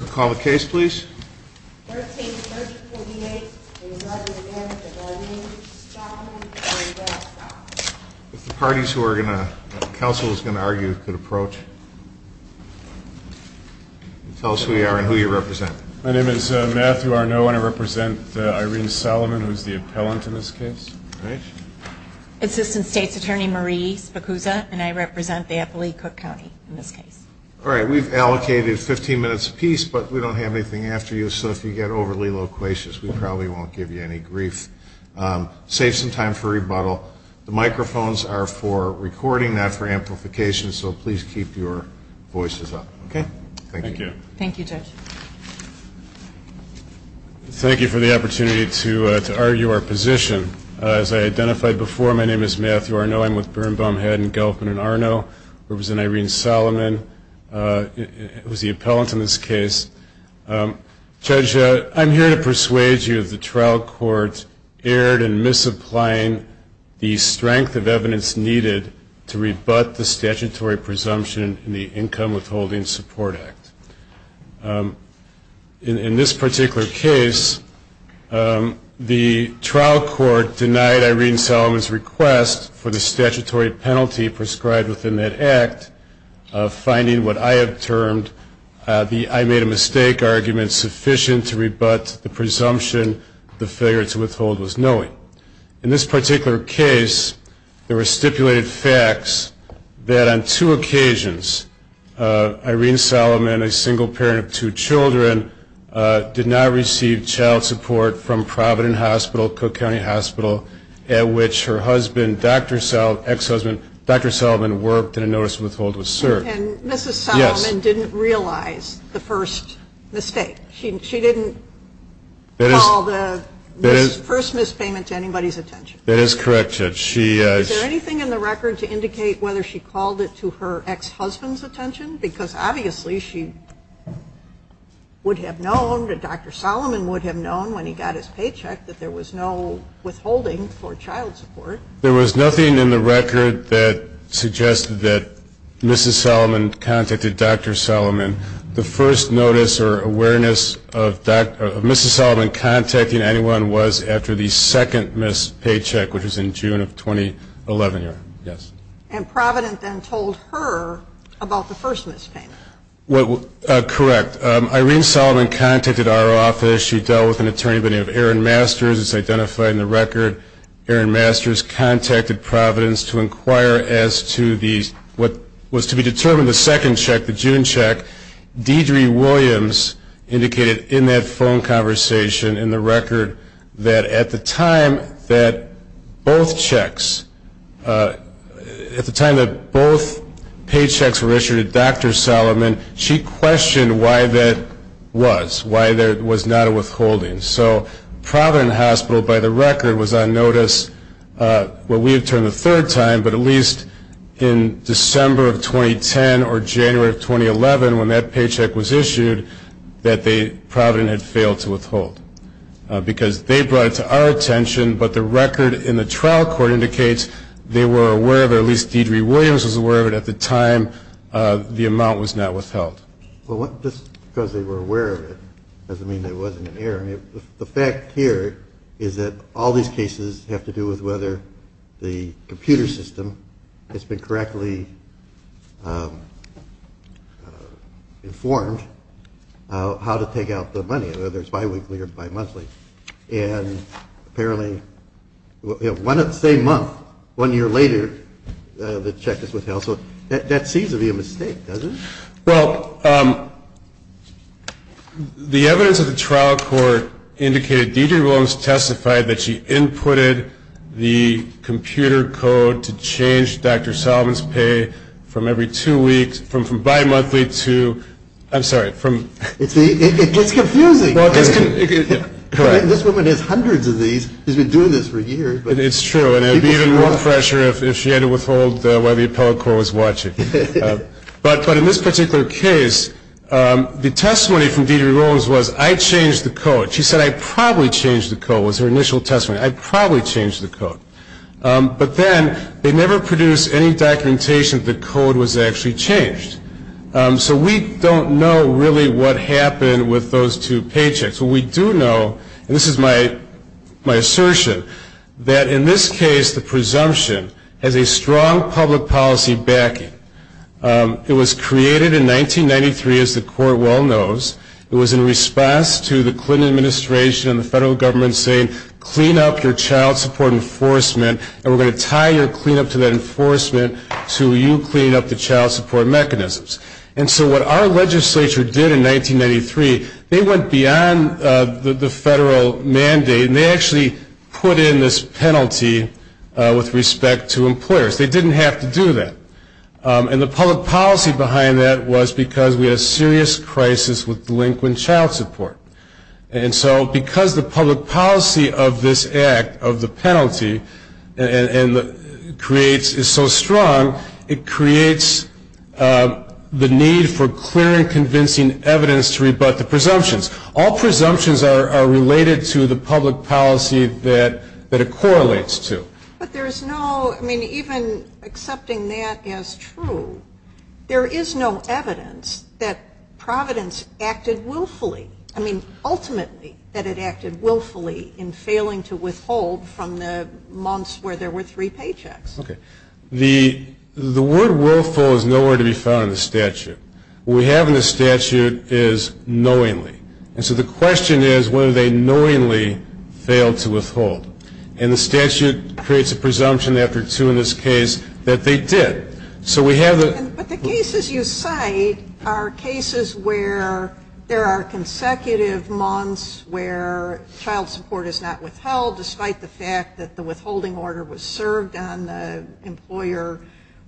Call the case please. Thirteen thirty-fourty-eight. It is represented by Mary Solomon. If the parties who are going to, the council is going to argue could approach. Tell us who you are and who you represent. My name is Matthew Arnaud and I represent Irene Solomon who is the appellant in this case. All right. Assistant State's Attorney Marie Spokusa and I represent the FLE Cook County in this case. All right. We've allocated 15 minutes a piece, but we don't have anything after you. So if you get overly loquacious, we probably won't give you any grief. Save some time for rebuttal. The microphones are for recording, not for amplification, so please keep your voices up. Okay. Thank you. Thank you, Judge. Thank you for the opportunity to argue our position. As I identified before, my name is Matthew Arnaud. I'm with Birnbaum, Haddon, Gelfman, and Arnaud. I represent Irene Solomon who is the appellant in this case. Judge, I'm here to persuade you that the trial court erred in misapplying the strength of evidence needed to rebut the statutory presumption in the Income Withholding Support Act. In this particular case, the trial court denied Irene Solomon's request for the statutory penalty prescribed within that act, finding what I have termed the I made a mistake argument sufficient to rebut the presumption the failure to withhold was knowing. In this particular case, there were stipulated facts that on two occasions, Irene Solomon, a single parent of two children, did not receive child support from Providence Hospital, Cook County Hospital, at which her ex-husband, Dr. Solomon, worked in a notice of withhold was served. And Mrs. Solomon didn't realize the first mistake. She didn't call the first mispayment to anybody's attention. That is correct, Judge. Is there anything in the record to indicate whether she called it to her ex-husband's attention? Because obviously she would have known, Dr. Solomon would have known when he got his paycheck, that there was no withholding for child support. There was nothing in the record that suggested that Mrs. Solomon contacted Dr. Solomon. The first notice or awareness of Mrs. Solomon contacting anyone was after the second mispay check, which was in June of 2011. Yes. And Providence then told her about the first mispayment. Correct. Irene Solomon contacted our office. She dealt with an attorney by the name of Aaron Masters. It's identified in the record. Aaron Masters contacted Providence to inquire as to what was to be determined the second check, the June check, Deidre Williams indicated in that phone conversation in the record that at the time that both checks, at the time that both paychecks were issued to Dr. Solomon, she questioned why that was, why there was not a withholding. So Providence Hospital, by the record, was on notice, well, we returned the third time, but at least in December of 2010 or January of 2011, when that paycheck was issued, that Providence had failed to withhold. Because they brought it to our attention, but the record in the trial court indicates they were aware of it, at least Deidre Williams was aware of it at the time the amount was not withheld. Well, just because they were aware of it doesn't mean there wasn't an error. The fact here is that all these cases have to do with whether the computer system has been correctly informed how to take out the money, whether it's biweekly or bimonthly. And apparently, you know, the same month, one year later, the check is withheld. So that seems to be a mistake, doesn't it? Well, the evidence of the trial court indicated Deidre Williams testified that she inputted the computer code to change Dr. Solomon's pay from every two weeks, from bimonthly to, I'm sorry, from. It's confusing. Correct. This woman has hundreds of these. She's been doing this for years. It's true. And it would be even more pressure if she had to withhold while the appellate court was watching. But in this particular case, the testimony from Deidre Williams was, I changed the code. She said, I probably changed the code, was her initial testimony. I probably changed the code. But then they never produced any documentation that the code was actually changed. So we don't know really what happened with those two paychecks. So we do know, and this is my assertion, that in this case, the presumption has a strong public policy backing. It was created in 1993, as the court well knows. It was in response to the Clinton administration and the federal government saying, clean up your child support enforcement, and we're going to tie your cleanup to that enforcement until you clean up the child support mechanisms. And so what our legislature did in 1993, they went beyond the federal mandate, and they actually put in this penalty with respect to employers. They didn't have to do that. And the public policy behind that was because we had a serious crisis with delinquent child support. And so because the public policy of this act, of the penalty, is so strong, it creates the need for clear and convincing evidence to rebut the presumptions. All presumptions are related to the public policy that it correlates to. But there's no, I mean, even accepting that as true, there is no evidence that Providence acted willfully. I mean, ultimately, that it acted willfully in failing to withhold from the months where there were three paychecks. Okay. The word willful is nowhere to be found in the statute. What we have in the statute is knowingly. And so the question is whether they knowingly failed to withhold. And the statute creates a presumption after two in this case that they did. So we have the. But the cases you cite are cases where there are consecutive months where child support is not withheld, despite the fact that the withholding order was served on the employer,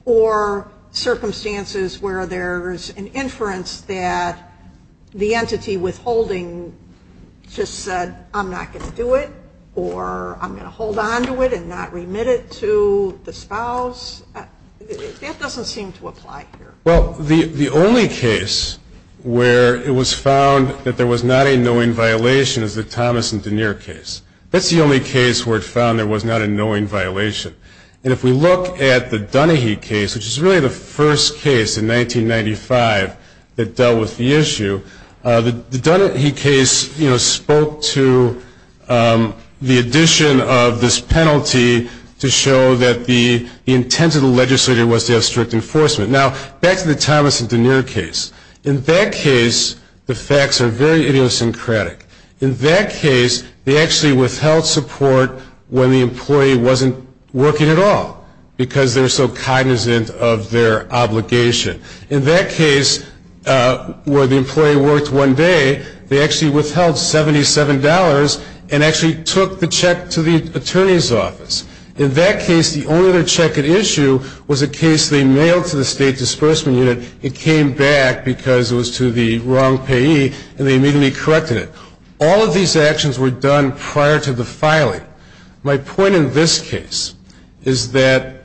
or circumstances where there's an inference that the entity withholding just said, I'm not going to do it, or I'm going to hold on to it and not remit it to the spouse. That doesn't seem to apply here. Well, the only case where it was found that there was not a knowing violation is the Thomas and Denier case. That's the only case where it found there was not a knowing violation. And if we look at the Dunahee case, which is really the first case in 1995 that dealt with the issue, the Dunahee case spoke to the addition of this penalty to show that the intent of the legislator was to have strict enforcement. Now, back to the Thomas and Denier case. In that case, the facts are very idiosyncratic. In that case, they actually withheld support when the employee wasn't working at all, because they were so cognizant of their obligation. In that case, where the employee worked one day, they actually withheld $77 and actually took the check to the attorney's office. In that case, the only other check at issue was a case they mailed to the State Disbursement Unit. It came back because it was to the wrong payee, and they immediately corrected it. All of these actions were done prior to the filing. My point in this case is that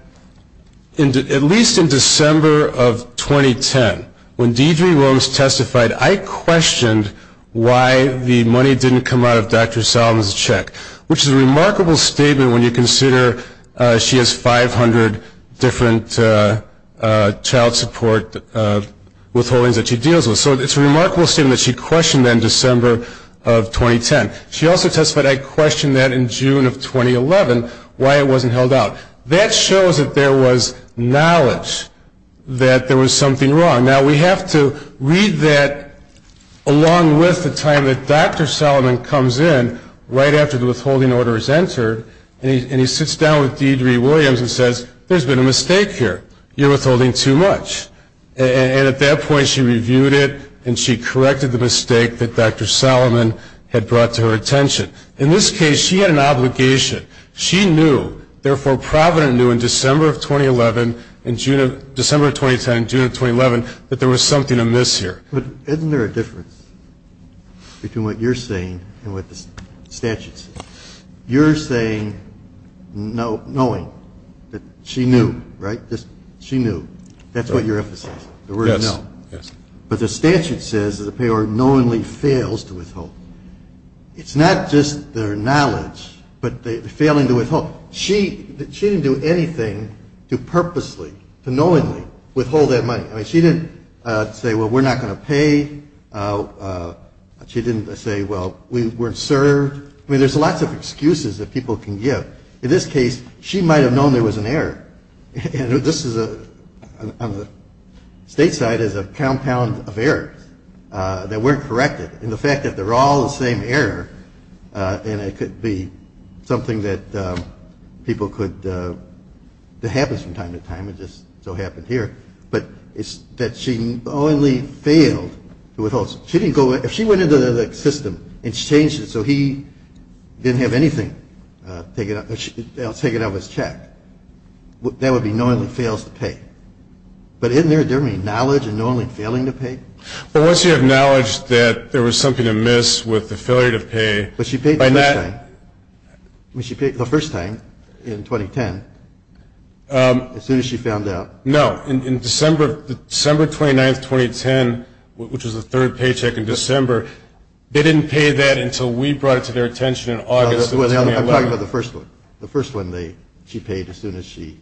at least in December of 2010, when Deidre Williams testified, I questioned why the money didn't come out of Dr. Solomon's check, which is a remarkable statement when you consider she has 500 different child support withholdings that she deals with. So it's a remarkable statement that she questioned that in December of 2010. She also testified, I questioned that in June of 2011, why it wasn't held out. That shows that there was knowledge that there was something wrong. Now, we have to read that along with the time that Dr. Solomon comes in right after the withholding order is entered, and he sits down with Deidre Williams and says, there's been a mistake here. You're withholding too much. And at that point, she reviewed it, and she corrected the mistake that Dr. Solomon had brought to her attention. In this case, she had an obligation. She knew, therefore Provident knew in December of 2011, in June of, December of 2010, June of 2011, that there was something amiss here. Isn't there a difference between what you're saying and what the statute says? You're saying knowing, that she knew, right? She knew. That's what you're emphasizing, the word know. Yes, yes. But the statute says that the payor knowingly fails to withhold. It's not just their knowledge, but the failing to withhold. She didn't do anything to purposely, to knowingly withhold that money. I mean, she didn't say, well, we're not going to pay. She didn't say, well, we weren't served. I mean, there's lots of excuses that people can give. In this case, she might have known there was an error. And this is, on the state side, is a compound of errors that weren't corrected. And the fact that they're all the same error, and it could be something that people could, that happens from time to time, it just so happened here, but it's that she knowingly failed to withhold. If she went into the system and changed it so he didn't have anything taken out of his check, that would be knowingly fails to pay. But isn't there a difference between knowledge and knowingly failing to pay? Well, once you have knowledge that there was something amiss with the failure to pay. But she paid the first time. I mean, she paid the first time in 2010 as soon as she found out. No, in December 29, 2010, which was the third paycheck in December, they didn't pay that until we brought it to their attention in August of 2011. I'm talking about the first one. The first one she paid as soon as she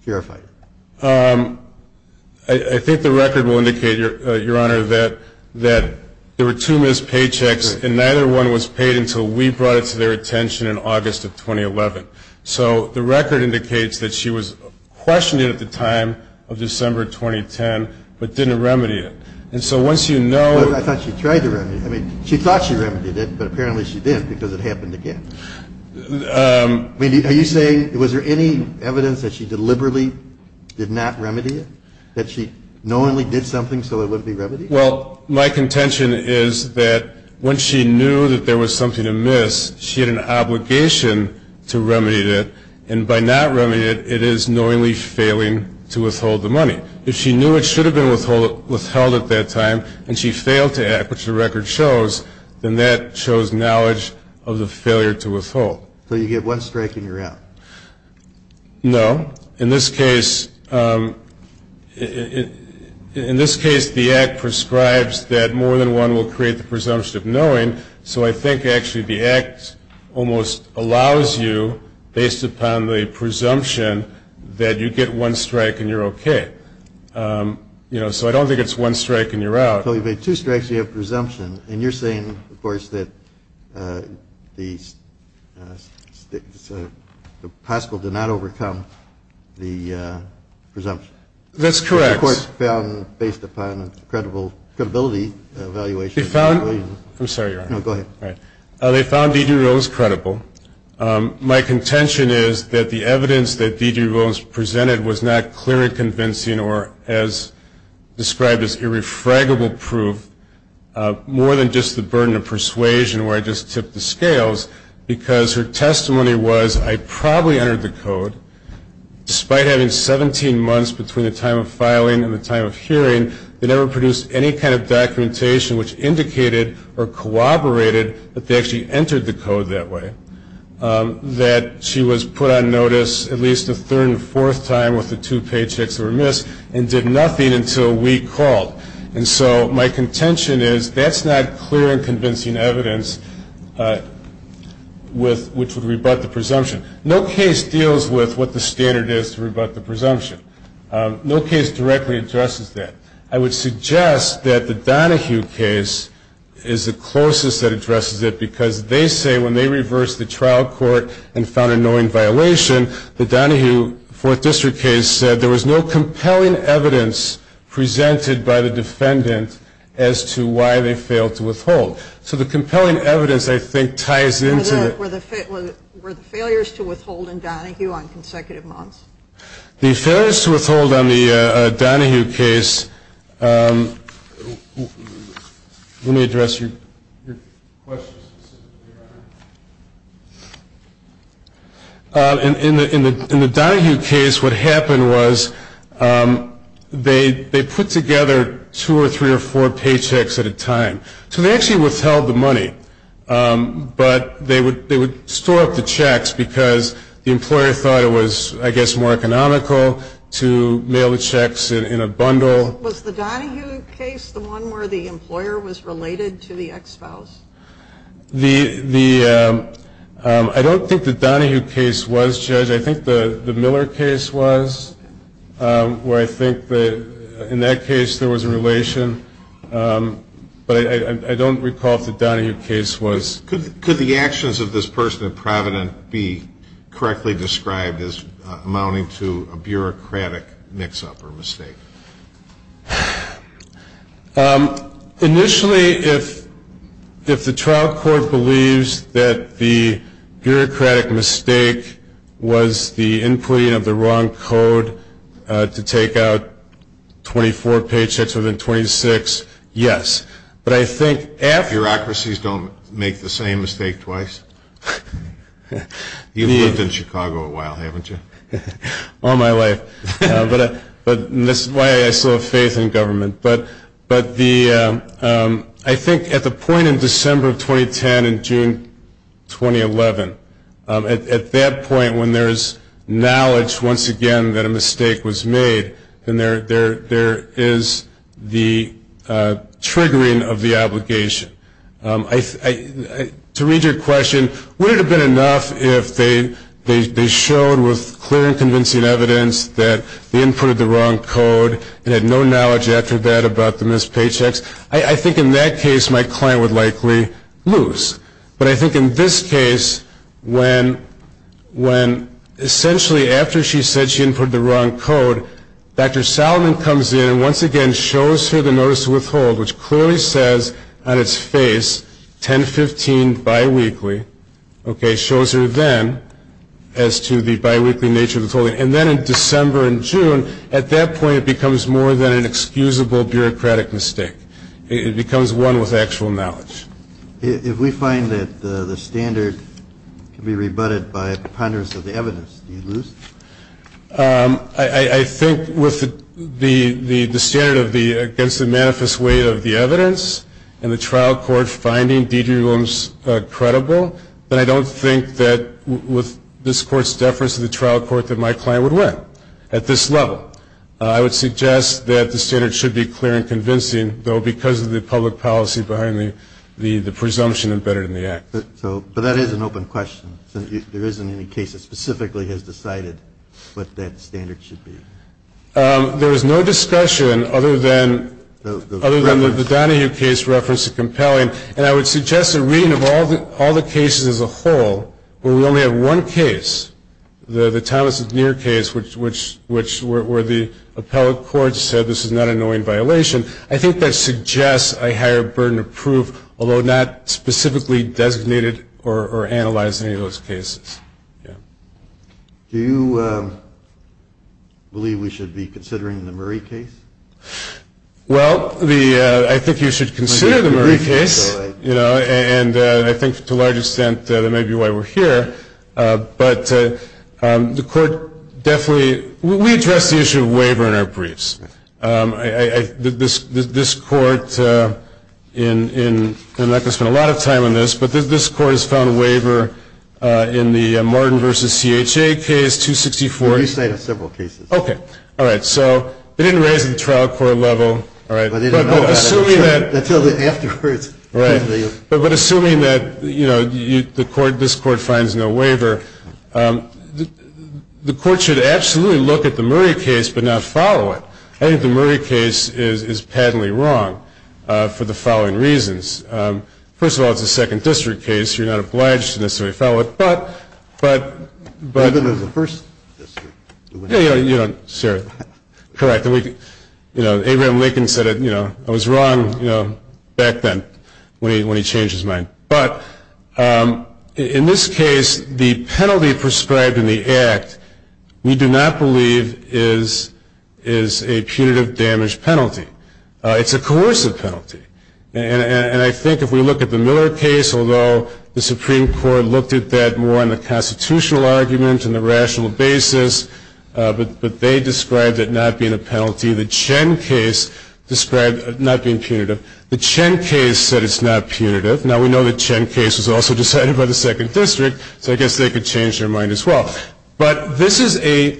verified it. I think the record will indicate, Your Honor, that there were two missed paychecks, and neither one was paid until we brought it to their attention in August of 2011. So the record indicates that she was questioned at the time of December 2010, but didn't remedy it. And so once you know... But I thought she tried to remedy it. I mean, she thought she remedied it, but apparently she didn't because it happened again. Are you saying, was there any evidence that she deliberately did not remedy it? That she knowingly did something so it wouldn't be remedied? Well, my contention is that when she knew that there was something amiss, she had an obligation to remedy it. And by not remedying it, it is knowingly failing to withhold the money. If she knew it should have been withheld at that time and she failed to act, which the record shows, then that shows knowledge of the failure to withhold. So you get one strike and you're out. No. In this case, the act prescribes that more than one will create the presumption of knowing. So I think, actually, the act almost allows you, based upon the presumption, that you get one strike and you're okay. You know, so I don't think it's one strike and you're out. So you've made two strikes and you have presumption. And you're saying, of course, that the possible did not overcome the presumption. That's correct. The court found, based upon credibility evaluation... I'm sorry, Your Honor. No, go ahead. They found D.J. Rowlands credible. My contention is that the evidence that D.J. Rowlands presented was not clear and convincing or as described as irrefragable proof, more than just the burden of persuasion where I just tipped the scales, because her testimony was, I probably entered the code. Despite having 17 months between the time of filing and the time of hearing, they never produced any kind of documentation which indicated or corroborated that they actually entered the code that way, that she was put on notice at least a third and fourth time with the two paychecks that were missed and did nothing until we called. And so my contention is that's not clear and convincing evidence which would rebut the presumption. No case deals with what the standard is to rebut the presumption. No case directly addresses that. I would suggest that the Donohue case is the closest that addresses it because they say when they reversed the trial court and found a knowing violation, the Donohue Fourth District case said there was no compelling evidence presented by the defendant as to why they failed to withhold. So the compelling evidence, I think, ties into... Were the failures to withhold in Donohue on consecutive months? The failures to withhold on the Donohue case... Let me address your question specifically, Your Honor. In the Donohue case, what happened was they put together two or three or four paychecks at a time. So they actually withheld the money, but they would store up the checks because the employer thought it was, I guess, more economical to mail the checks in a bundle. Was the Donohue case the one where the employer was related to the ex-spouse? I don't think the Donohue case was, Judge. I think the Miller case was, where I think in that case there was a relation. But I don't recall if the Donohue case was. Could the actions of this person at Provident be correctly described as amounting to a bureaucratic mix-up or mistake? Initially, if the trial court believes that the bureaucratic mistake was the inputting of the wrong code to take out 24 paychecks within 26, yes. Bureaucracies don't make the same mistake twice? You've lived in Chicago a while, haven't you? All my life. But that's why I still have faith in government. But I think at the point in December of 2010 and June 2011, at that point when there is knowledge once again that a mistake was made, then there is the triggering of the obligation. To read your question, would it have been enough if they showed with clear and convincing evidence that they inputted the wrong code and had no knowledge after that about the missed paychecks? I think in that case my client would likely lose. But I think in this case, when essentially after she said she inputted the wrong code, Dr. Salomon comes in and once again shows her the notice of withhold, which clearly says on its face 10-15 biweekly, shows her then as to the biweekly nature of the withholding. And then in December and June, at that point it becomes more than an excusable bureaucratic mistake. It becomes one with actual knowledge. If we find that the standard can be rebutted by ponderance of the evidence, do you lose? I think with the standard against the manifest weight of the evidence and the trial court finding D.J. Williams credible, then I don't think that with this Court's deference to the trial court that my client would win at this level. I would suggest that the standard should be clear and convincing, though because of the public policy behind the presumption embedded in the Act. But that is an open question. There isn't any case that specifically has decided what that standard should be. There is no discussion other than the Donahue case referenced as compelling, and I would suggest a reading of all the cases as a whole where we only have one case, the Thomas-Nier case where the appellate court said this is not an annoying violation. Although not specifically designated or analyzed in any of those cases. Do you believe we should be considering the Murray case? Well, I think you should consider the Murray case, and I think to a large extent that may be why we're here. We address the issue of waiver in our briefs. This Court, and I'm not going to spend a lot of time on this, but this Court has found a waiver in the Martin v. C.H.A. case, 264. Well, you cited several cases. Okay. All right. So they didn't raise the trial court level. But assuming that this Court finds no waiver, the Court should absolutely look at the Murray case but not follow it. I think the Murray case is patently wrong for the following reasons. First of all, it's a second district case. You're not obliged to necessarily follow it. But the first district. Correct. Abraham Lincoln said I was wrong back then when he changed his mind. But in this case, the penalty prescribed in the act we do not believe is a punitive damage penalty. It's a coercive penalty. And I think if we look at the Miller case, although the Supreme Court looked at that more in the constitutional argument and the rational basis, but they described it not being a penalty. The Chen case described it not being punitive. The Chen case said it's not punitive. Now, we know the Chen case was also decided by the second district, so I guess they could change their mind as well. But this is a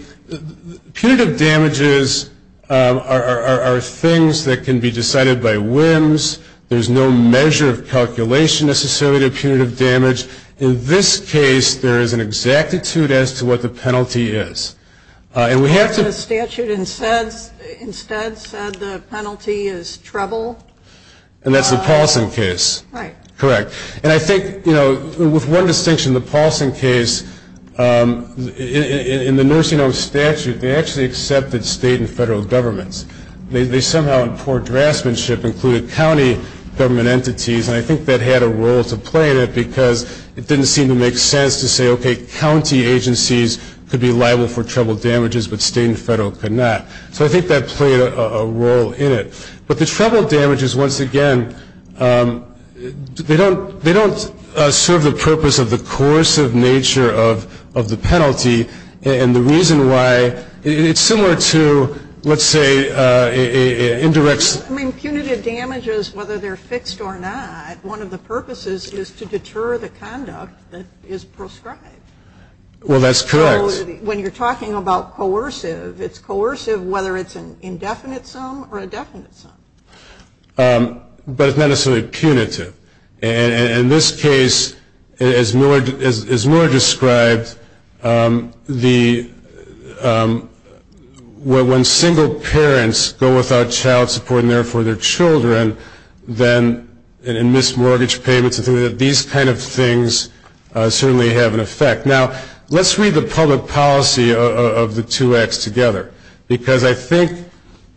punitive damages are things that can be decided by whims. There's no measure of calculation necessarily to punitive damage. In this case, there is an exactitude as to what the penalty is. And we have to. The statute instead said the penalty is trouble. And that's the Paulson case. Right. Correct. And I think, you know, with one distinction, the Paulson case, in the nursing home statute, they actually accepted state and federal governments. They somehow in poor draftsmanship included county government entities, and I think that had a role to play in it because it didn't seem to make sense to say, okay, county agencies could be liable for trouble damages, but state and federal could not. So I think that played a role in it. But the trouble damages, once again, they don't serve the purpose of the coercive nature of the penalty, and the reason why it's similar to, let's say, indirect. I mean, punitive damages, whether they're fixed or not, one of the purposes is to deter the conduct that is prescribed. Well, that's correct. When you're talking about coercive, it's coercive whether it's an indefinite sum or a definite sum. But it's not necessarily punitive. And in this case, as Miller described, when single parents go without child support and, therefore, their children then miss mortgage payments, I think that these kind of things certainly have an effect. Now, let's read the public policy of the two acts together because I think,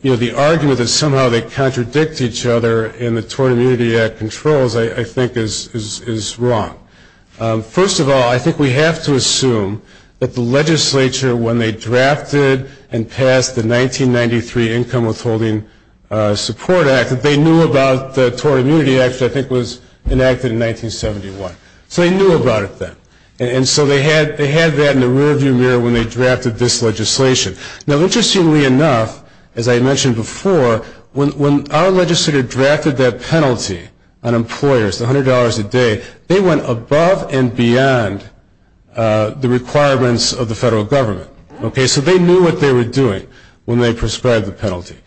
you know, the argument that somehow they contradict each other in the Tort Immunity Act controls, I think, is wrong. First of all, I think we have to assume that the legislature, when they drafted and passed the 1993 Income Withholding Support Act, that they knew about the Tort Immunity Act, which I think was enacted in 1971. So they knew about it then. And so they had that in the rearview mirror when they drafted this legislation. Now, interestingly enough, as I mentioned before, when our legislature drafted that penalty on employers, $100 a day, they went above and beyond the requirements of the federal government. Okay? So they knew what they were doing when they prescribed the penalty.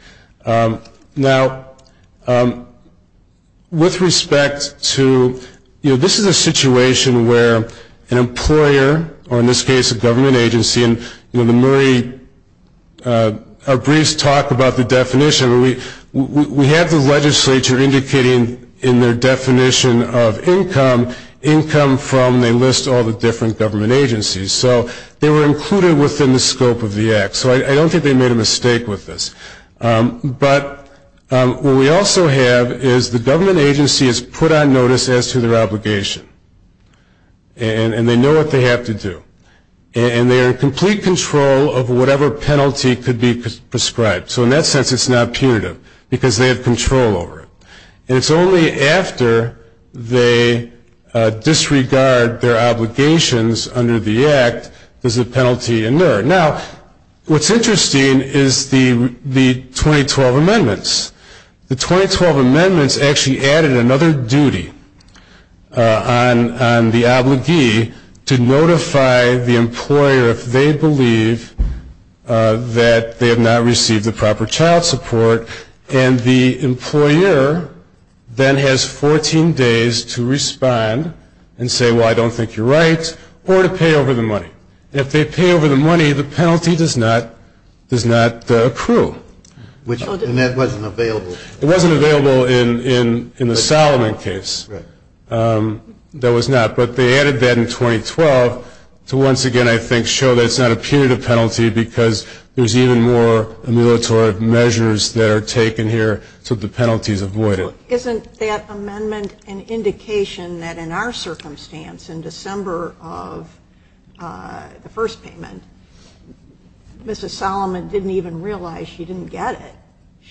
Now, with respect to, you know, this is a situation where an employer, or in this case a government agency, and, you know, the Murray briefs talk about the definition. We have the legislature indicating in their definition of income, income from, they list all the different government agencies. So they were included within the scope of the act. So I don't think they made a mistake with this. But what we also have is the government agency has put on notice as to their obligation. And they know what they have to do. And they are in complete control of whatever penalty could be prescribed. So in that sense, it's not punitive because they have control over it. And it's only after they disregard their obligations under the act does the penalty inert. Now, what's interesting is the 2012 amendments. The 2012 amendments actually added another duty on the obligee to notify the employer if they believe that they have not received the proper child support. And the employer then has 14 days to respond and say, well, I don't think you're right, or to pay over the money. If they pay over the money, the penalty does not accrue. And that wasn't available. It wasn't available in the Solomon case. That was not. But they added that in 2012 to once again, I think, show that it's not a punitive penalty because there's even more ameliorative measures that are taken here so the penalty is avoided. Isn't that amendment an indication that in our circumstance, in December of the first payment, Mrs. Solomon didn't even realize she didn't get it.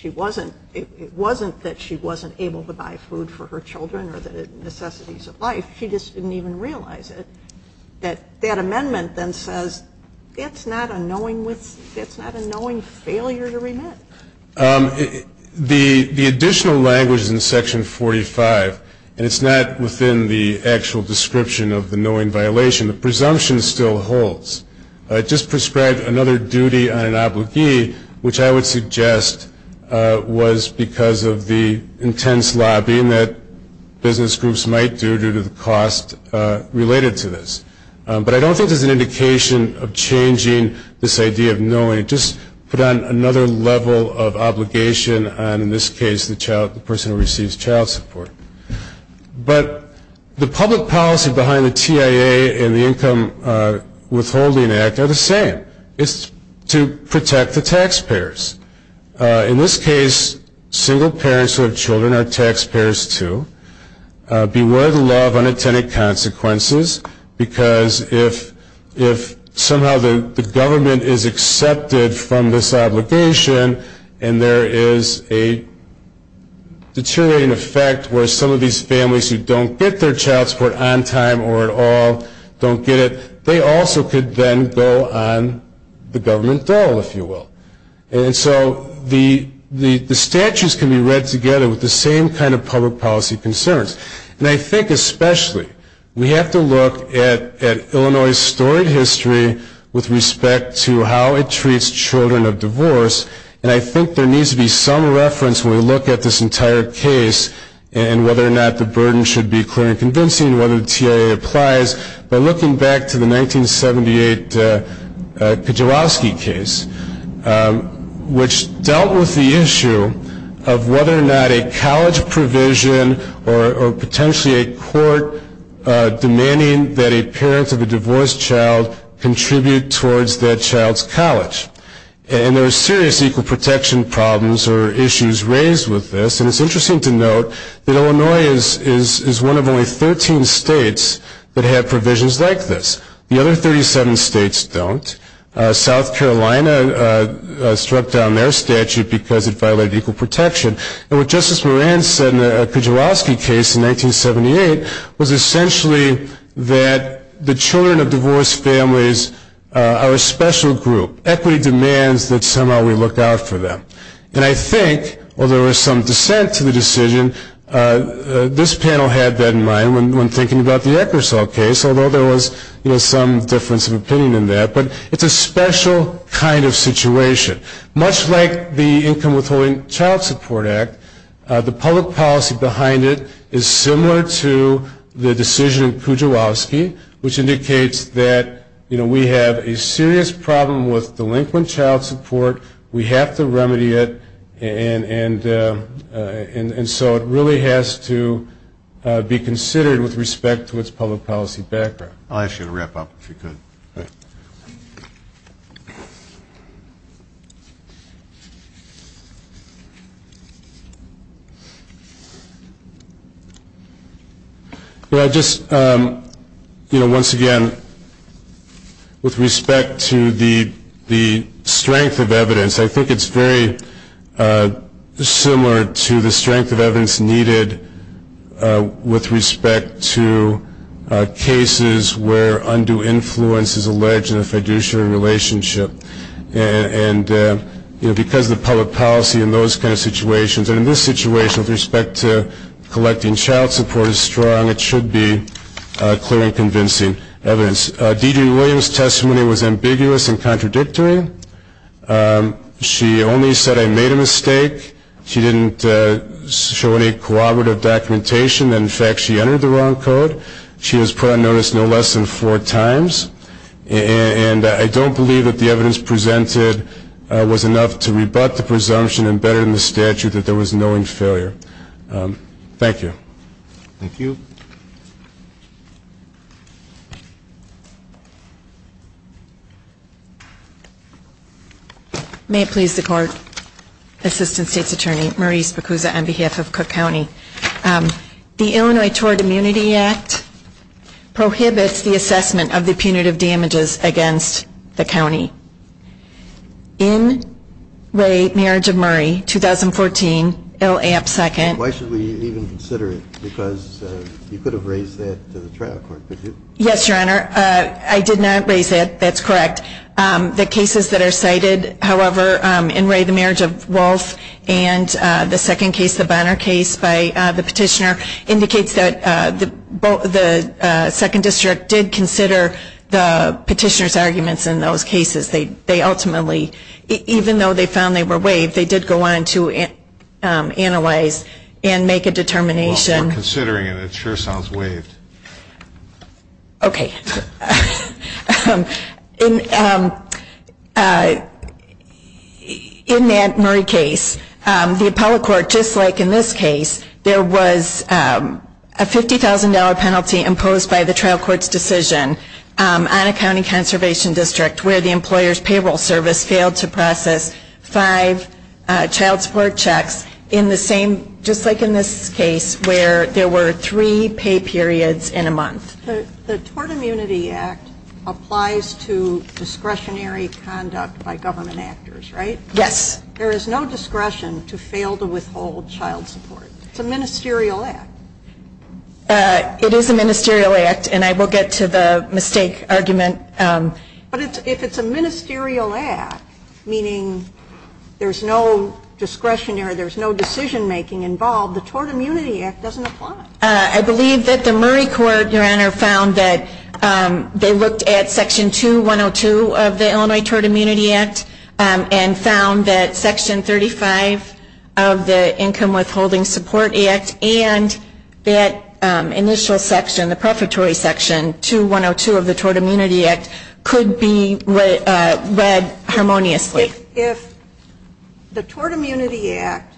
It wasn't that she wasn't able to buy food for her children or the necessities of life. She just didn't even realize it. That that amendment then says it's not a knowing failure to remit. The additional language in Section 45, and it's not within the actual description of the knowing violation, the presumption still holds. It just prescribed another duty on an obligee, which I would suggest was because of the intense lobbying that business groups might do due to the cost related to this. But I don't think there's an indication of changing this idea of knowing. It just put on another level of obligation on, in this case, the person who receives child support. But the public policy behind the TIA and the Income Withholding Act are the same. It's to protect the taxpayers. In this case, single parents who have children are taxpayers too. Beware the law of unintended consequences, because if somehow the government is accepted from this obligation and there is a deteriorating effect where some of these families who don't get their child support on time or at all don't get it, they also could then go on the government dole, if you will. And so the statutes can be read together with the same kind of public policy concerns. And I think especially we have to look at Illinois' storied history with respect to how it treats children of divorce, and I think there needs to be some reference when we look at this entire case and whether or not the burden should be clear and convincing, whether the TIA applies. But looking back to the 1978 Kijewoski case, which dealt with the issue of whether or not a college provision or potentially a court demanding that a parent of a divorced child contribute towards that child's college. And there are serious equal protection problems or issues raised with this. And it's interesting to note that Illinois is one of only 13 states that have provisions like this. The other 37 states don't. South Carolina struck down their statute because it violated equal protection. And what Justice Moran said in the Kijewoski case in 1978 was essentially that the children of divorced families are a special group. Equity demands that somehow we look out for them. And I think, although there was some dissent to the decision, this panel had that in mind when thinking about the Eckersall case, although there was some difference of opinion in that. But it's a special kind of situation. Much like the Income Withholding Child Support Act, the public policy behind it is similar to the decision in Kijewoski, which indicates that we have a serious problem with delinquent child support. We have to remedy it. And so it really has to be considered with respect to its public policy background. I'll ask you to wrap up, if you could. All right. Well, I just, you know, once again, with respect to the strength of evidence, I think it's very similar to the strength of evidence needed with respect to cases where undue influence is alleged in a fiduciary relationship. And, you know, because the public policy in those kind of situations, and in this situation with respect to collecting child support is strong, it should be clear and convincing evidence. D.J. Williams' testimony was ambiguous and contradictory. She only said, I made a mistake. She didn't show any corroborative documentation. In fact, she entered the wrong code. She was put on notice no less than four times. And I don't believe that the evidence presented was enough to rebut the presumption embedded in the statute that there was knowing failure. Thank you. Thank you. May it please the Court, Assistant State's Attorney, on behalf of Cook County. The Illinois Tort Immunity Act prohibits the assessment of the punitive damages against the county. In Ray, Marriage of Murray, 2014, L.A. up second. Why should we even consider it? Because you could have raised that to the trial court, could you? Yes, Your Honor. I did not raise that. That's correct. The cases that are cited, however, in Ray, the Marriage of Wolfe, and the second case, the Bonner case by the petitioner, indicates that the second district did consider the petitioner's arguments in those cases. They ultimately, even though they found they were waived, they did go on to analyze and make a determination. Well, we're considering it. It sure sounds waived. Okay. In that Murray case, the appellate court, just like in this case, there was a $50,000 penalty imposed by the trial court's decision on a county conservation district where the employer's payroll service failed to process five child support checks in the same, just like in this case, The Tort Immunity Act applies to discretionary conduct by government actors, right? Yes. There is no discretion to fail to withhold child support. It's a ministerial act. It is a ministerial act, and I will get to the mistake argument. But if it's a ministerial act, meaning there's no discretionary, there's no decision-making involved, the Tort Immunity Act doesn't apply. I believe that the Murray court, Your Honor, found that they looked at Section 2.102 of the Illinois Tort Immunity Act and found that Section 35 of the Income Withholding Support Act and that initial section, the prefatory section, 2.102 of the Tort Immunity Act, could be read harmoniously. If the Tort Immunity Act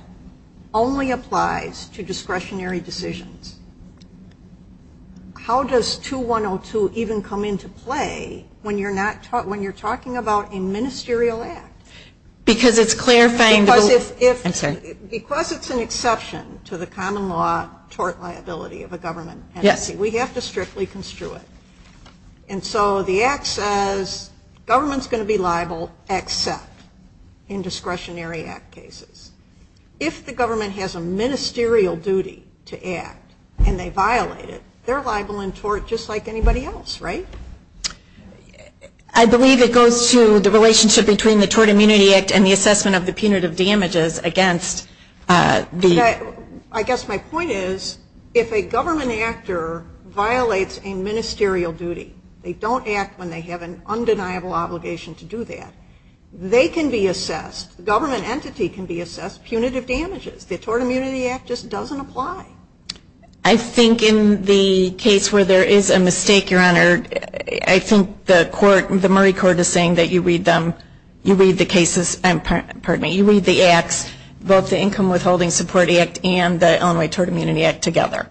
only applies to discretionary decisions, how does 2.102 even come into play when you're talking about a ministerial act? Because it's clarifying the rule. I'm sorry. Because it's an exception to the common law tort liability of a government entity. Yes. We have to strictly construe it. And so the act says government's going to be liable except in discretionary act cases. If the government has a ministerial duty to act and they violate it, they're liable in tort just like anybody else, right? I believe it goes to the relationship between the Tort Immunity Act and the assessment of the punitive damages against the ‑‑ I guess my point is if a government actor violates a ministerial duty, they don't act when they have an undeniable obligation to do that, they can be assessed, the government entity can be assessed punitive damages. The Tort Immunity Act just doesn't apply. I think in the case where there is a mistake, Your Honor, I think the court, the Murray Court is saying that you read them, you read the cases, you read the acts, both the Income Withholding Support Act and the Illinois Tort Immunity Act together.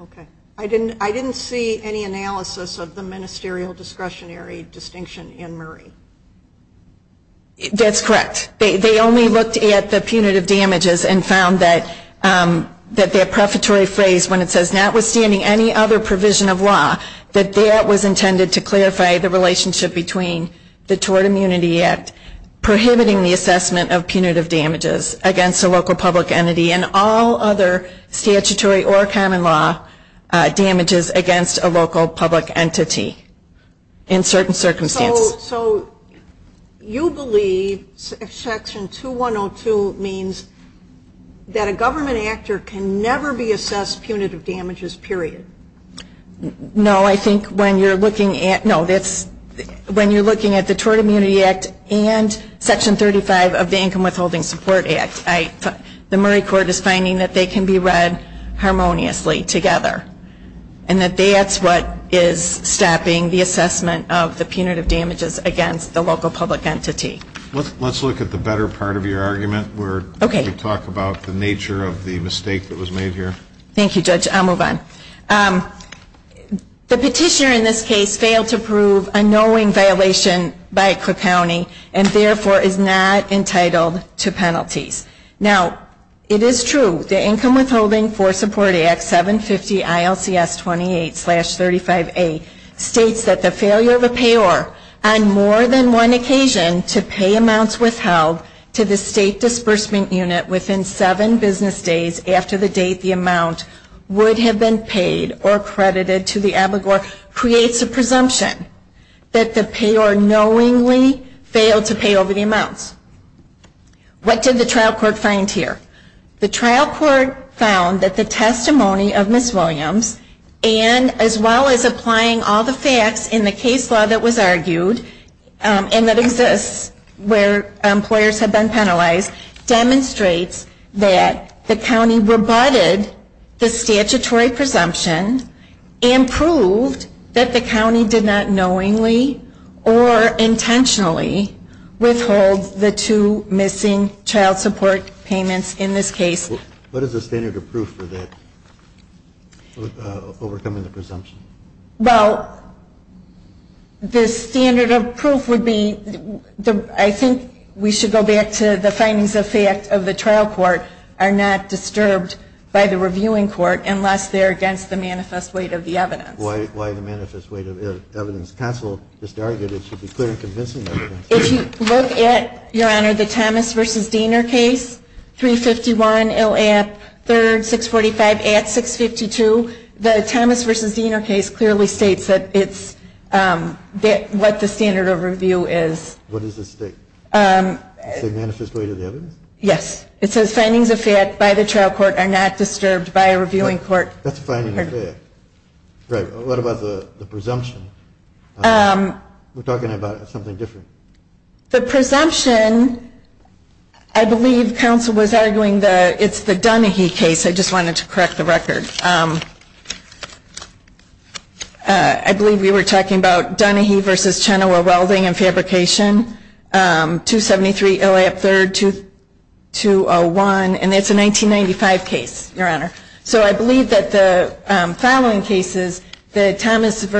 Okay. I didn't see any analysis of the ministerial discretionary distinction in Murray. That's correct. They only looked at the punitive damages and found that their prefatory phrase when it says notwithstanding any other provision of law, that that was intended to clarify the relationship between the Tort Immunity Act, prohibiting the assessment of punitive damages against a local public entity and all other statutory or common law damages against a local public entity in certain circumstances. So you believe Section 2102 means that a government actor can never be assessed punitive damages, period? No. No, I think when you're looking at the Tort Immunity Act and Section 35 of the Income Withholding Support Act, the Murray Court is finding that they can be read harmoniously together and that that's what is stopping the assessment of the punitive damages against the local public entity. Let's look at the better part of your argument where you talk about the nature of the mistake that was made here. Thank you, Judge. I'll move on. The petitioner in this case failed to prove a knowing violation by Cook County and therefore is not entitled to penalties. Now, it is true the Income Withholding for Support Act 750 ILCS 28-35A states that the failure of a payor on more than one occasion to pay amounts withheld to the State Disbursement Unit within seven business days after the date the amount would have been paid or credited to the abligor creates a presumption that the payor knowingly failed to pay over the amounts. What did the trial court find here? The trial court found that the testimony of Ms. Williams and as well as applying all the facts in the case law that was argued and that exists where employers have been penalized demonstrates that the county rebutted the statutory presumption and proved that the county did not knowingly or intentionally withhold the two missing child support payments in this case. What is the standard of proof for that, for overcoming the presumption? Well, the standard of proof would be, I think we should go back to the findings of fact of the trial court, are not disturbed by the reviewing court unless they're against the manifest weight of the evidence. Why the manifest weight of evidence? Counsel just argued it should be clear and convincing evidence. If you look at, Your Honor, the Thomas v. Diener case, 351, ILAP, 3rd, 645, Act 652, the Thomas v. Diener case clearly states that it's what the standard of review is. What does it state? Is it manifest weight of the evidence? Yes. It says findings of fact by the trial court are not disturbed by a reviewing court. That's a finding of fact. Right. What about the presumption? We're talking about something different. The presumption, I believe counsel was arguing it's the Dunahee case. I just wanted to correct the record. I believe we were talking about Dunahee v. Chenoweth Welding and Fabrication, 273, ILAP, 3rd, 2201, and it's a 1995 case, Your Honor. So I believe that the following cases, the Thomas v.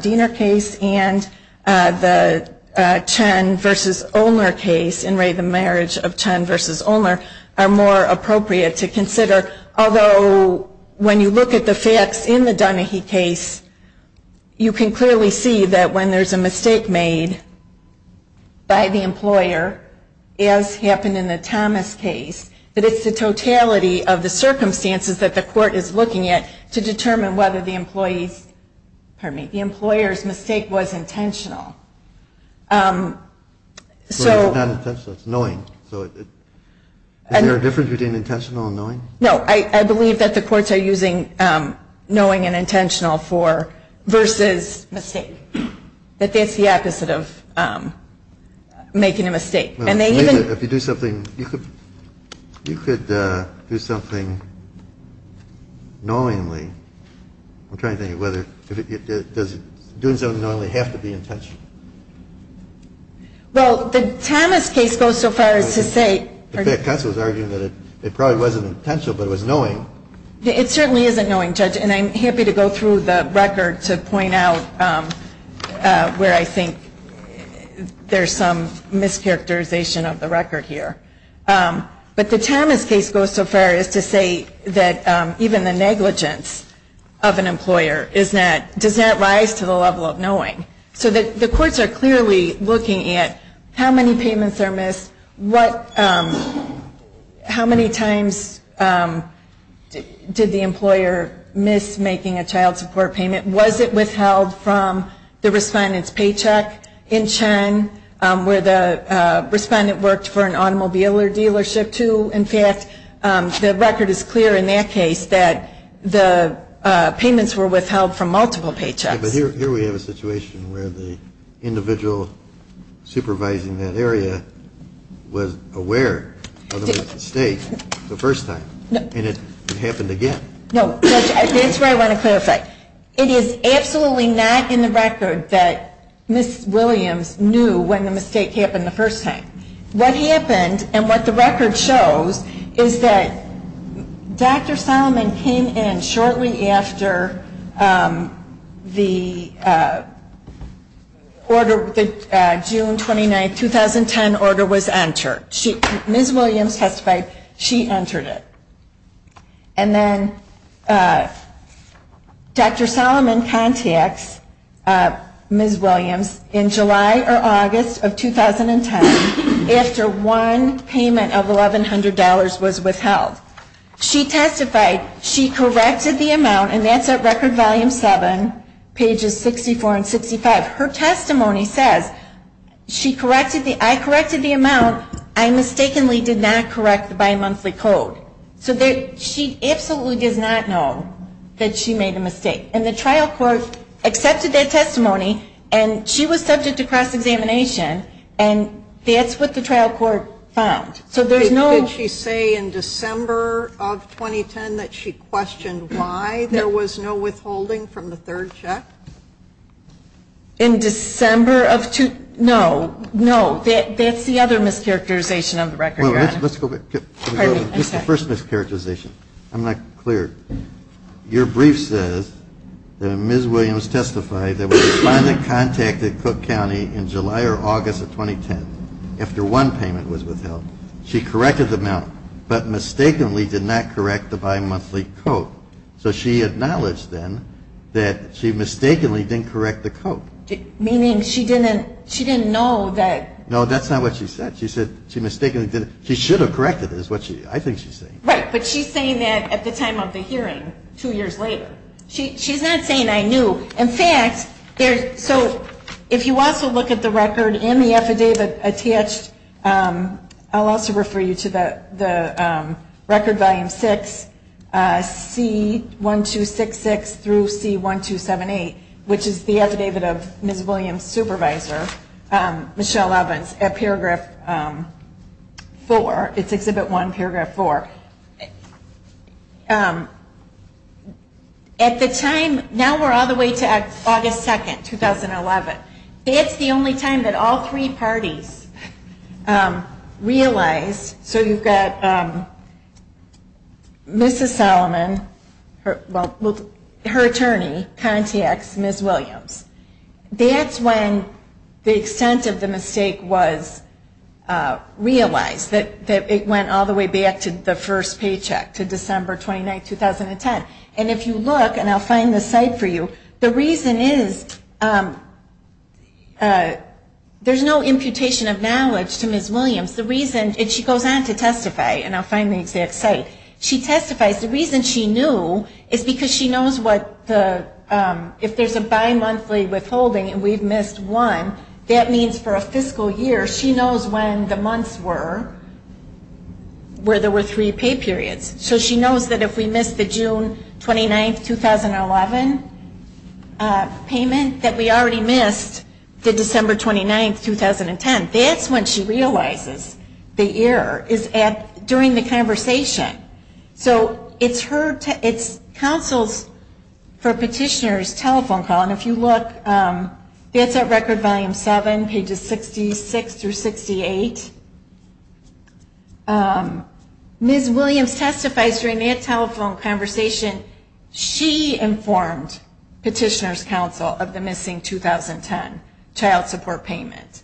Diener case and the Chen v. Olner case, are more appropriate to consider, although when you look at the facts in the Dunahee case, you can clearly see that when there's a mistake made by the employer, as happened in the Thomas case, that it's the totality of the circumstances that the court is looking at to determine whether the employer's mistake was intentional. It's not intentional. It's knowing. Is there a difference between intentional and knowing? No. I believe that the courts are using knowing and intentional versus mistake. That that's the opposite of making a mistake. If you do something, you could do something knowingly. I'm trying to think of whether, does doing something knowingly have to be intentional? Well, the Thomas case goes so far as to say. In fact, Cuncil was arguing that it probably wasn't intentional, but it was knowing. It certainly isn't knowing, Judge, and I'm happy to go through the record to point out where I think there's some mischaracterization of the record here. But the Thomas case goes so far as to say that even the negligence of an employer does not rise to the level of knowing. So the courts are clearly looking at how many payments are missed, how many times did the employer miss making a child support payment, was it withheld from the respondent's paycheck in turn, where the respondent worked for an automobile or dealership too. In fact, the record is clear in that case that the payments were withheld from multiple paychecks. But here we have a situation where the individual supervising that area was aware of the mistake the first time, and it happened again. No, Judge, that's where I want to clarify. It is absolutely not in the record that Ms. Williams knew when the mistake happened the first time. What happened and what the record shows is that Dr. Solomon came in shortly after the June 29, 2010 order was entered. Ms. Williams testified she entered it. And then Dr. Solomon contacts Ms. Williams in July or August of 2010 after one payment of $1,100 was withheld. She testified she corrected the amount, and that's at Record Volume 7, pages 64 and 65. But her testimony says, I corrected the amount, I mistakenly did not correct the bimonthly code. So she absolutely does not know that she made a mistake. And the trial court accepted that testimony, and she was subject to cross-examination, and that's what the trial court found. Did she say in December of 2010 that she questioned why there was no withholding from the third check? In December of 2010, no. No, that's the other mischaracterization of the record, Your Honor. Well, let's go back. Pardon me, I'm sorry. Just the first mischaracterization. I'm not clear. Your brief says that Ms. Williams testified that when the client contacted Cook County in July or August of 2010 after one payment was withheld, she corrected the amount, but mistakenly did not correct the bimonthly code. So she acknowledged then that she mistakenly didn't correct the code. Meaning she didn't know that. No, that's not what she said. She said she mistakenly didn't. She should have corrected it is what I think she's saying. Right, but she's saying that at the time of the hearing, two years later. She's not saying I knew. In fact, so if you also look at the record and the affidavit attached, I'll also refer you to the record volume 6, C1266 through C1278, which is the affidavit of Ms. Williams' supervisor, Michelle Evans, at Paragraph 4. It's Exhibit 1, Paragraph 4. At the time, now we're all the way to August 2, 2011. That's the only time that all three parties realized. So you've got Mrs. Solomon, her attorney contacts Ms. Williams. That's when the extent of the mistake was realized, that it went all the way back to the first paycheck, to December 29, 2010. And if you look, and I'll find the site for you, the reason is there's no imputation of knowledge to Ms. Williams. The reason, and she goes on to testify, and I'll find the exact site. She testifies. The reason she knew is because she knows what the, if there's a bimonthly withholding and we've missed one, that means for a fiscal year, she knows when the months were, where there were three pay periods. So she knows that if we missed the June 29, 2011 payment, that we already missed the December 29, 2010. That's when she realizes the error, is during the conversation. So it's her, it's counsel's, for petitioner's telephone call. And if you look, it's at Record Volume 7, pages 66 through 68. Ms. Williams testifies during that telephone conversation. She informed petitioner's counsel of the missing 2010 child support payment.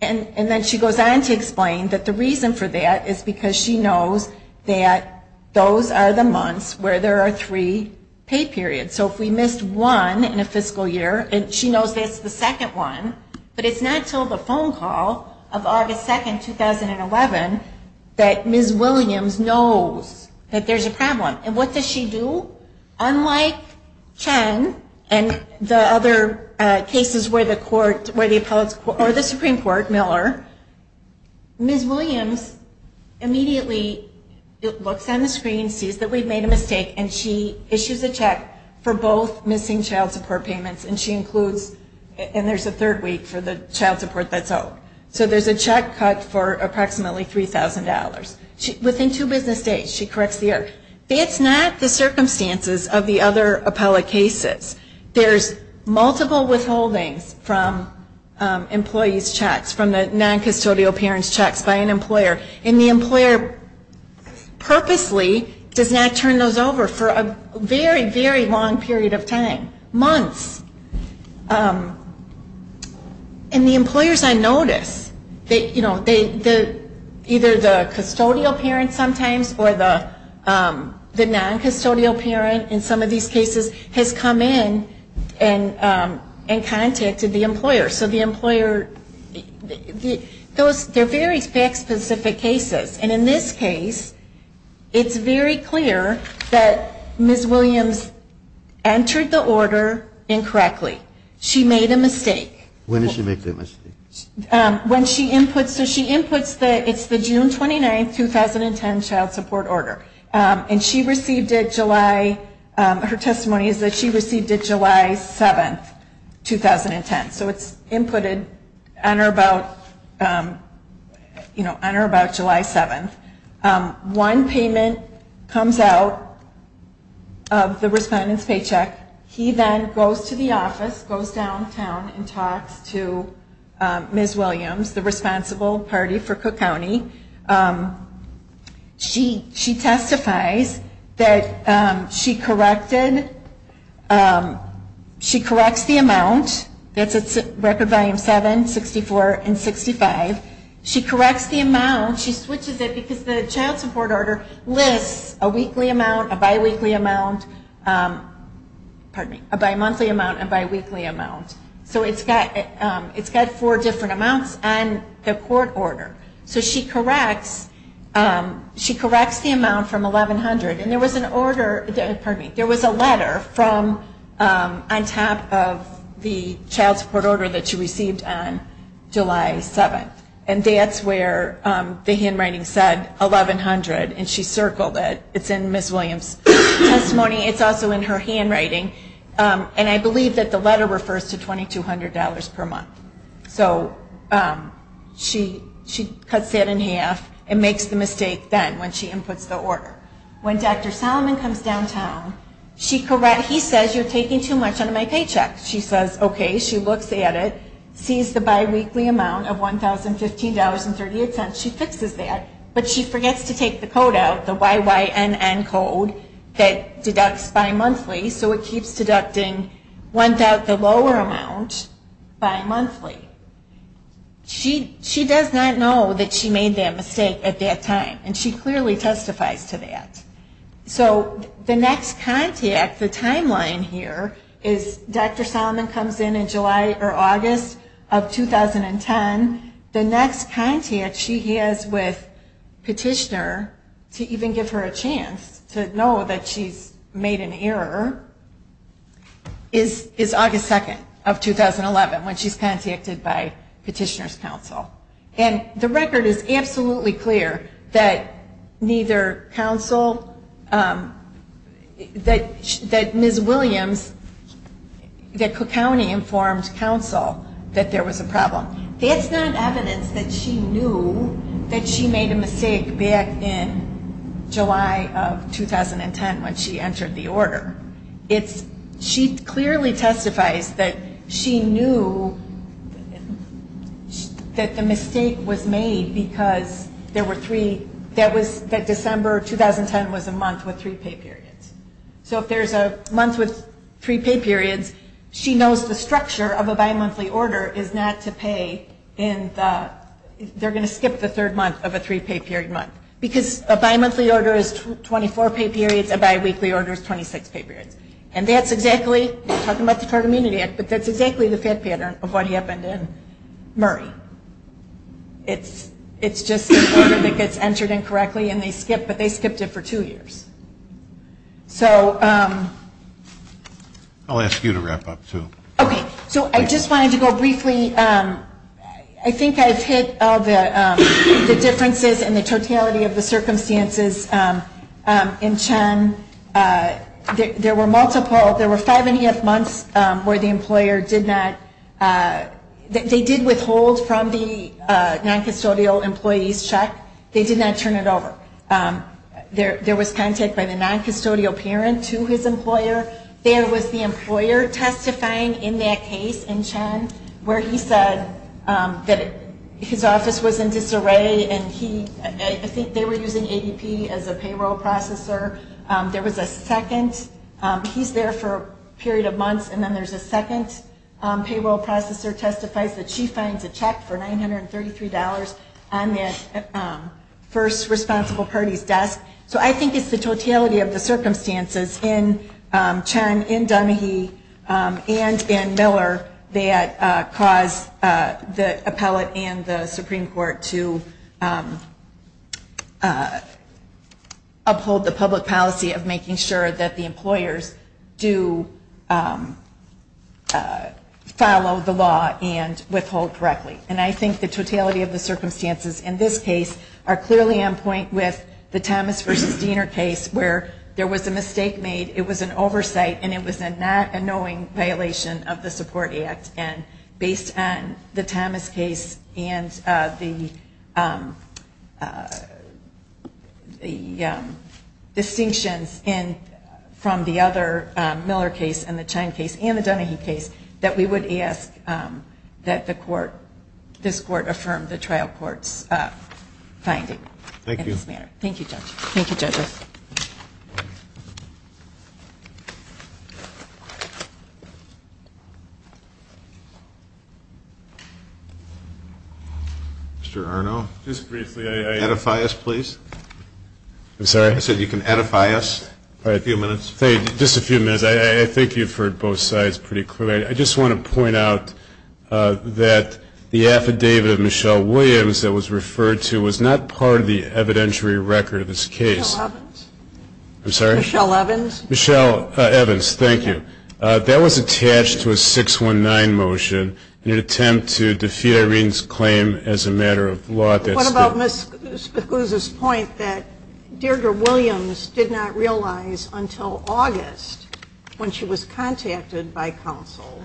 And then she goes on to explain that the reason for that is because she knows that those are the months where there are three pay periods. So if we missed one in a fiscal year, and she knows that's the second one, but it's not until the phone call of August 2, 2011, that Ms. Williams knows that there's a problem. And what does she do? Unlike Chen and the other cases where the Supreme Court, Miller, Ms. Williams immediately looks on the screen, sees that we've made a mistake, and she issues a check for both missing child support payments. And she includes, and there's a third week for the child support that's out. So there's a check cut for approximately $3,000. Within two business days, she corrects the error. That's not the circumstances of the other appellate cases. There's multiple withholdings from employees' checks, from the noncustodial parents' checks by an employer. And the employer purposely does not turn those over for a very, very long period of time, months. And the employers, I notice, you know, either the custodial parent sometimes or the noncustodial parent in some of these cases has come in and contacted the employer. So the employer, those, they're very fact-specific cases. And in this case, it's very clear that Ms. Williams entered the order incorrectly. She made a mistake. When did she make the mistake? When she inputs, so she inputs the, it's the June 29, 2010 child support order. And she received it July, her testimony is that she received it July 7, 2010. So it's inputted on or about, you know, on or about July 7. One payment comes out of the respondent's paycheck. He then goes to the office, goes downtown and talks to Ms. Williams, the responsible party for Cook County. She testifies that she corrected, she corrects the amount, that's at record volume 7, 64, and 65. She corrects the amount, she switches it because the child support order lists a weekly amount, a bi-weekly amount, pardon me, a bi-monthly amount, a bi-weekly amount. So it's got four different amounts on the court order. So she corrects, she corrects the amount from $1,100 and there was an order, pardon me, there was a letter from, on top of the child support order that she received on July 7. And that's where the handwriting said $1,100 and she circled it. It's in Ms. Williams' testimony. It's also in her handwriting. And I believe that the letter refers to $2,200 per month. So she cuts that in half and makes the mistake then when she inputs the order. When Dr. Solomon comes downtown, he says you're taking too much out of my paycheck. She says, okay, she looks at it, sees the bi-weekly amount of $1,015.38, she fixes that. But she forgets to take the code out, the YYNN code that deducts bi-monthly. So it keeps deducting the lower amount bi-monthly. She does not know that she made that mistake at that time. And she clearly testifies to that. So the next contact, the timeline here is Dr. Solomon comes in in July or August of 2010. The next contact she has with Petitioner to even give her a chance to know that she's made an error is August 2nd of 2011 when she's contacted by Petitioner's counsel. And the record is absolutely clear that neither counsel, that Ms. Williams, that Cook County informed counsel that there was a problem. That's not evidence that she knew that she made a mistake back in July of 2010 when she entered the order. She clearly testifies that she knew that the mistake was made because there were three, that December 2010 was a month with three pay periods. So if there's a month with three pay periods, she knows the structure of a bi-monthly order is not to pay in the, they're going to skip the third month of a three pay period month. Because a bi-monthly order is 24 pay periods, a bi-weekly order is 26 pay periods. And that's exactly, talking about the Child Immunity Act, but that's exactly the fat pattern of what happened in Murray. It's just an order that gets entered incorrectly and they skip, but they skipped it for two years. So. I'll ask you to wrap up too. Okay, so I just wanted to go briefly. I think I've hit all the differences in the totality of the circumstances in Chen. There were multiple, there were five and a half months where the employer did not, they did withhold from the non-custodial employees check. They did not turn it over. There was contact by the non-custodial parent to his employer. There was the employer testifying in that case in Chen where he said that his office was in disarray and he, I think they were using ADP as a payroll processor. There was a second. He's there for a period of months and then there's a second payroll processor testifies that she finds a check for $933 on the first responsible party's desk. So I think it's the totality of the circumstances in Chen, in Dunahee, and in Miller that caused the appellate and the Supreme Court to uphold the public policy of making sure that the employers do follow the law and withhold correctly. And I think the totality of the circumstances in this case are clearly on point with the Thomas v. Diener case where there was a mistake made. It was an oversight and it was a not a knowing violation of the Support Act and based on the Thomas case and the distinctions from the other Miller case and the Chen case and the Dunahee case that we would ask that this court affirm the trial court's finding in this matter. Thank you judges. Mr. Arno. Just briefly. Edify us please. I'm sorry? I said you can edify us for a few minutes. Just a few minutes. I think you've heard both sides pretty clearly. I just want to point out that the affidavit of Michelle Williams that was referred to was not part of the evidentiary record of this case. Michelle Evans? I'm sorry? Michelle Evans. Michelle Evans. Thank you. That was attached to a 619 motion in an attempt to defeat Irene's claim as a matter of law. What about Ms. Guza's point that Deirdre Williams did not realize until August when she was contacted by counsel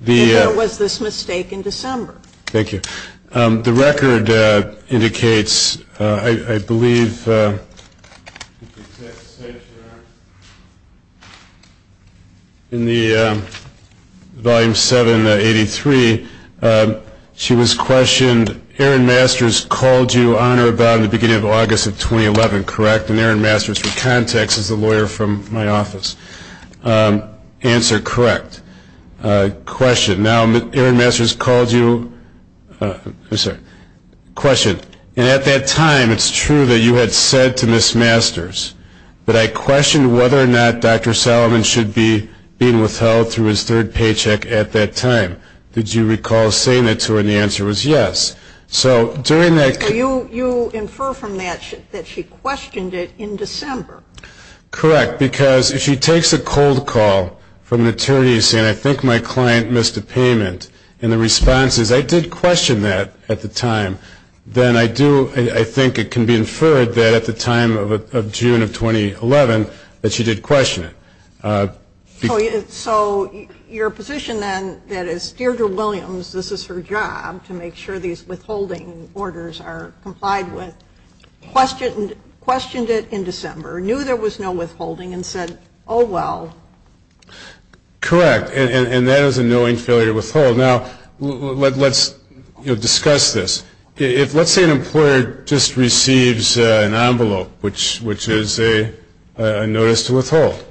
that there was this mistake in December? Thank you. The record indicates, I believe, in the volume 783, she was questioned, Aaron Masters called you on or about in the beginning of August of 2011, correct? And Aaron Masters for context is the lawyer from my office. Answer, correct. Question, now Aaron Masters called you, I'm sorry, question, and at that time it's true that you had said to Ms. Masters that I questioned whether or not Dr. Solomon should be being withheld through his third paycheck at that time. Did you recall saying that to her, and the answer was yes. So during that. You infer from that that she questioned it in December. Correct, because if she takes a cold call from an attorney saying I think my client missed a payment, and the response is I did question that at the time, then I think it can be inferred that at the time of June of 2011 that she did question it. So your position then that as Deirdre Williams, this is her job to make sure these withholding orders are complied with, questioned it in December, knew there was no withholding, and said, oh, well. Correct, and that is a knowing failure to withhold. Now, let's discuss this. Let's say an employer just receives an envelope, which is a notice to withhold,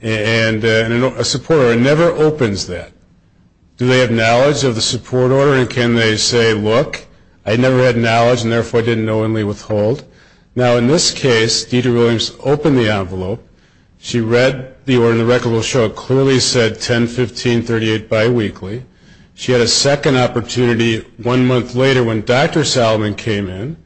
and a support order. It never opens that. Do they have knowledge of the support order, and can they say, look, I never had knowledge, and therefore I didn't knowingly withhold. Now, in this case, Deirdre Williams opened the envelope. She read the order, and the record will show it clearly said 10, 15, 38 biweekly. She had a second opportunity one month later when Dr. Salomon came in.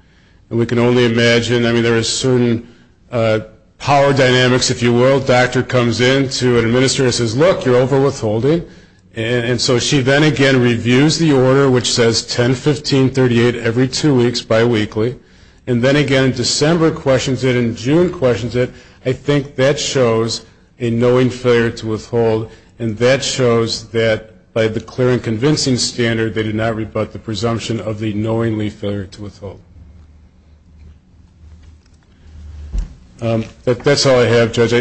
And we can only imagine, I mean, there is certain power dynamics, if you will. A doctor comes in to an administrator and says, look, you're overwithholding. And so she then again reviews the order, which says 10, 15, 38 every two weeks biweekly, and then again in December questions it and in June questions it. I think that shows a knowing failure to withhold, and that shows that by the clear and convincing standard, they did not rebut the presumption of the knowingly failure to withhold. That's all I have, Judge.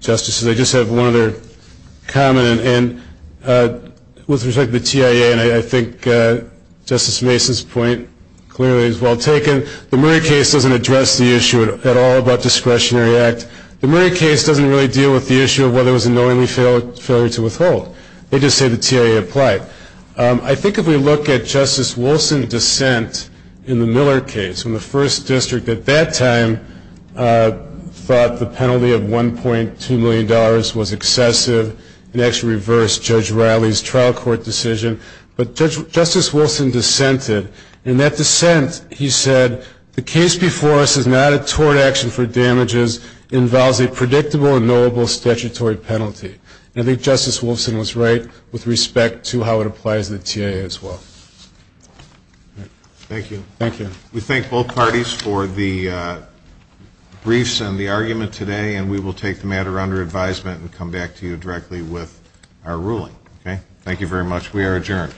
Justices, I just have one other comment. And with respect to the TIA, and I think Justice Mason's point clearly is well taken, the Murray case doesn't address the issue at all about discretionary act. The Murray case doesn't really deal with the issue of whether it was a knowingly failure to withhold. They just say the TIA applied. I think if we look at Justice Wilson's dissent in the Miller case, when the first district at that time thought the penalty of $1.2 million was excessive and actually reversed Judge Riley's trial court decision. But Justice Wilson dissented, and in that dissent he said, the case before us is not a tort action for damages. It involves a predictable and knowable statutory penalty. And I think Justice Wilson was right with respect to how it applies to the TIA as well. Thank you. We thank both parties for the briefs and the argument today, and we will take the matter under advisement and come back to you directly with our ruling. Thank you very much. We are adjourned. Thank you.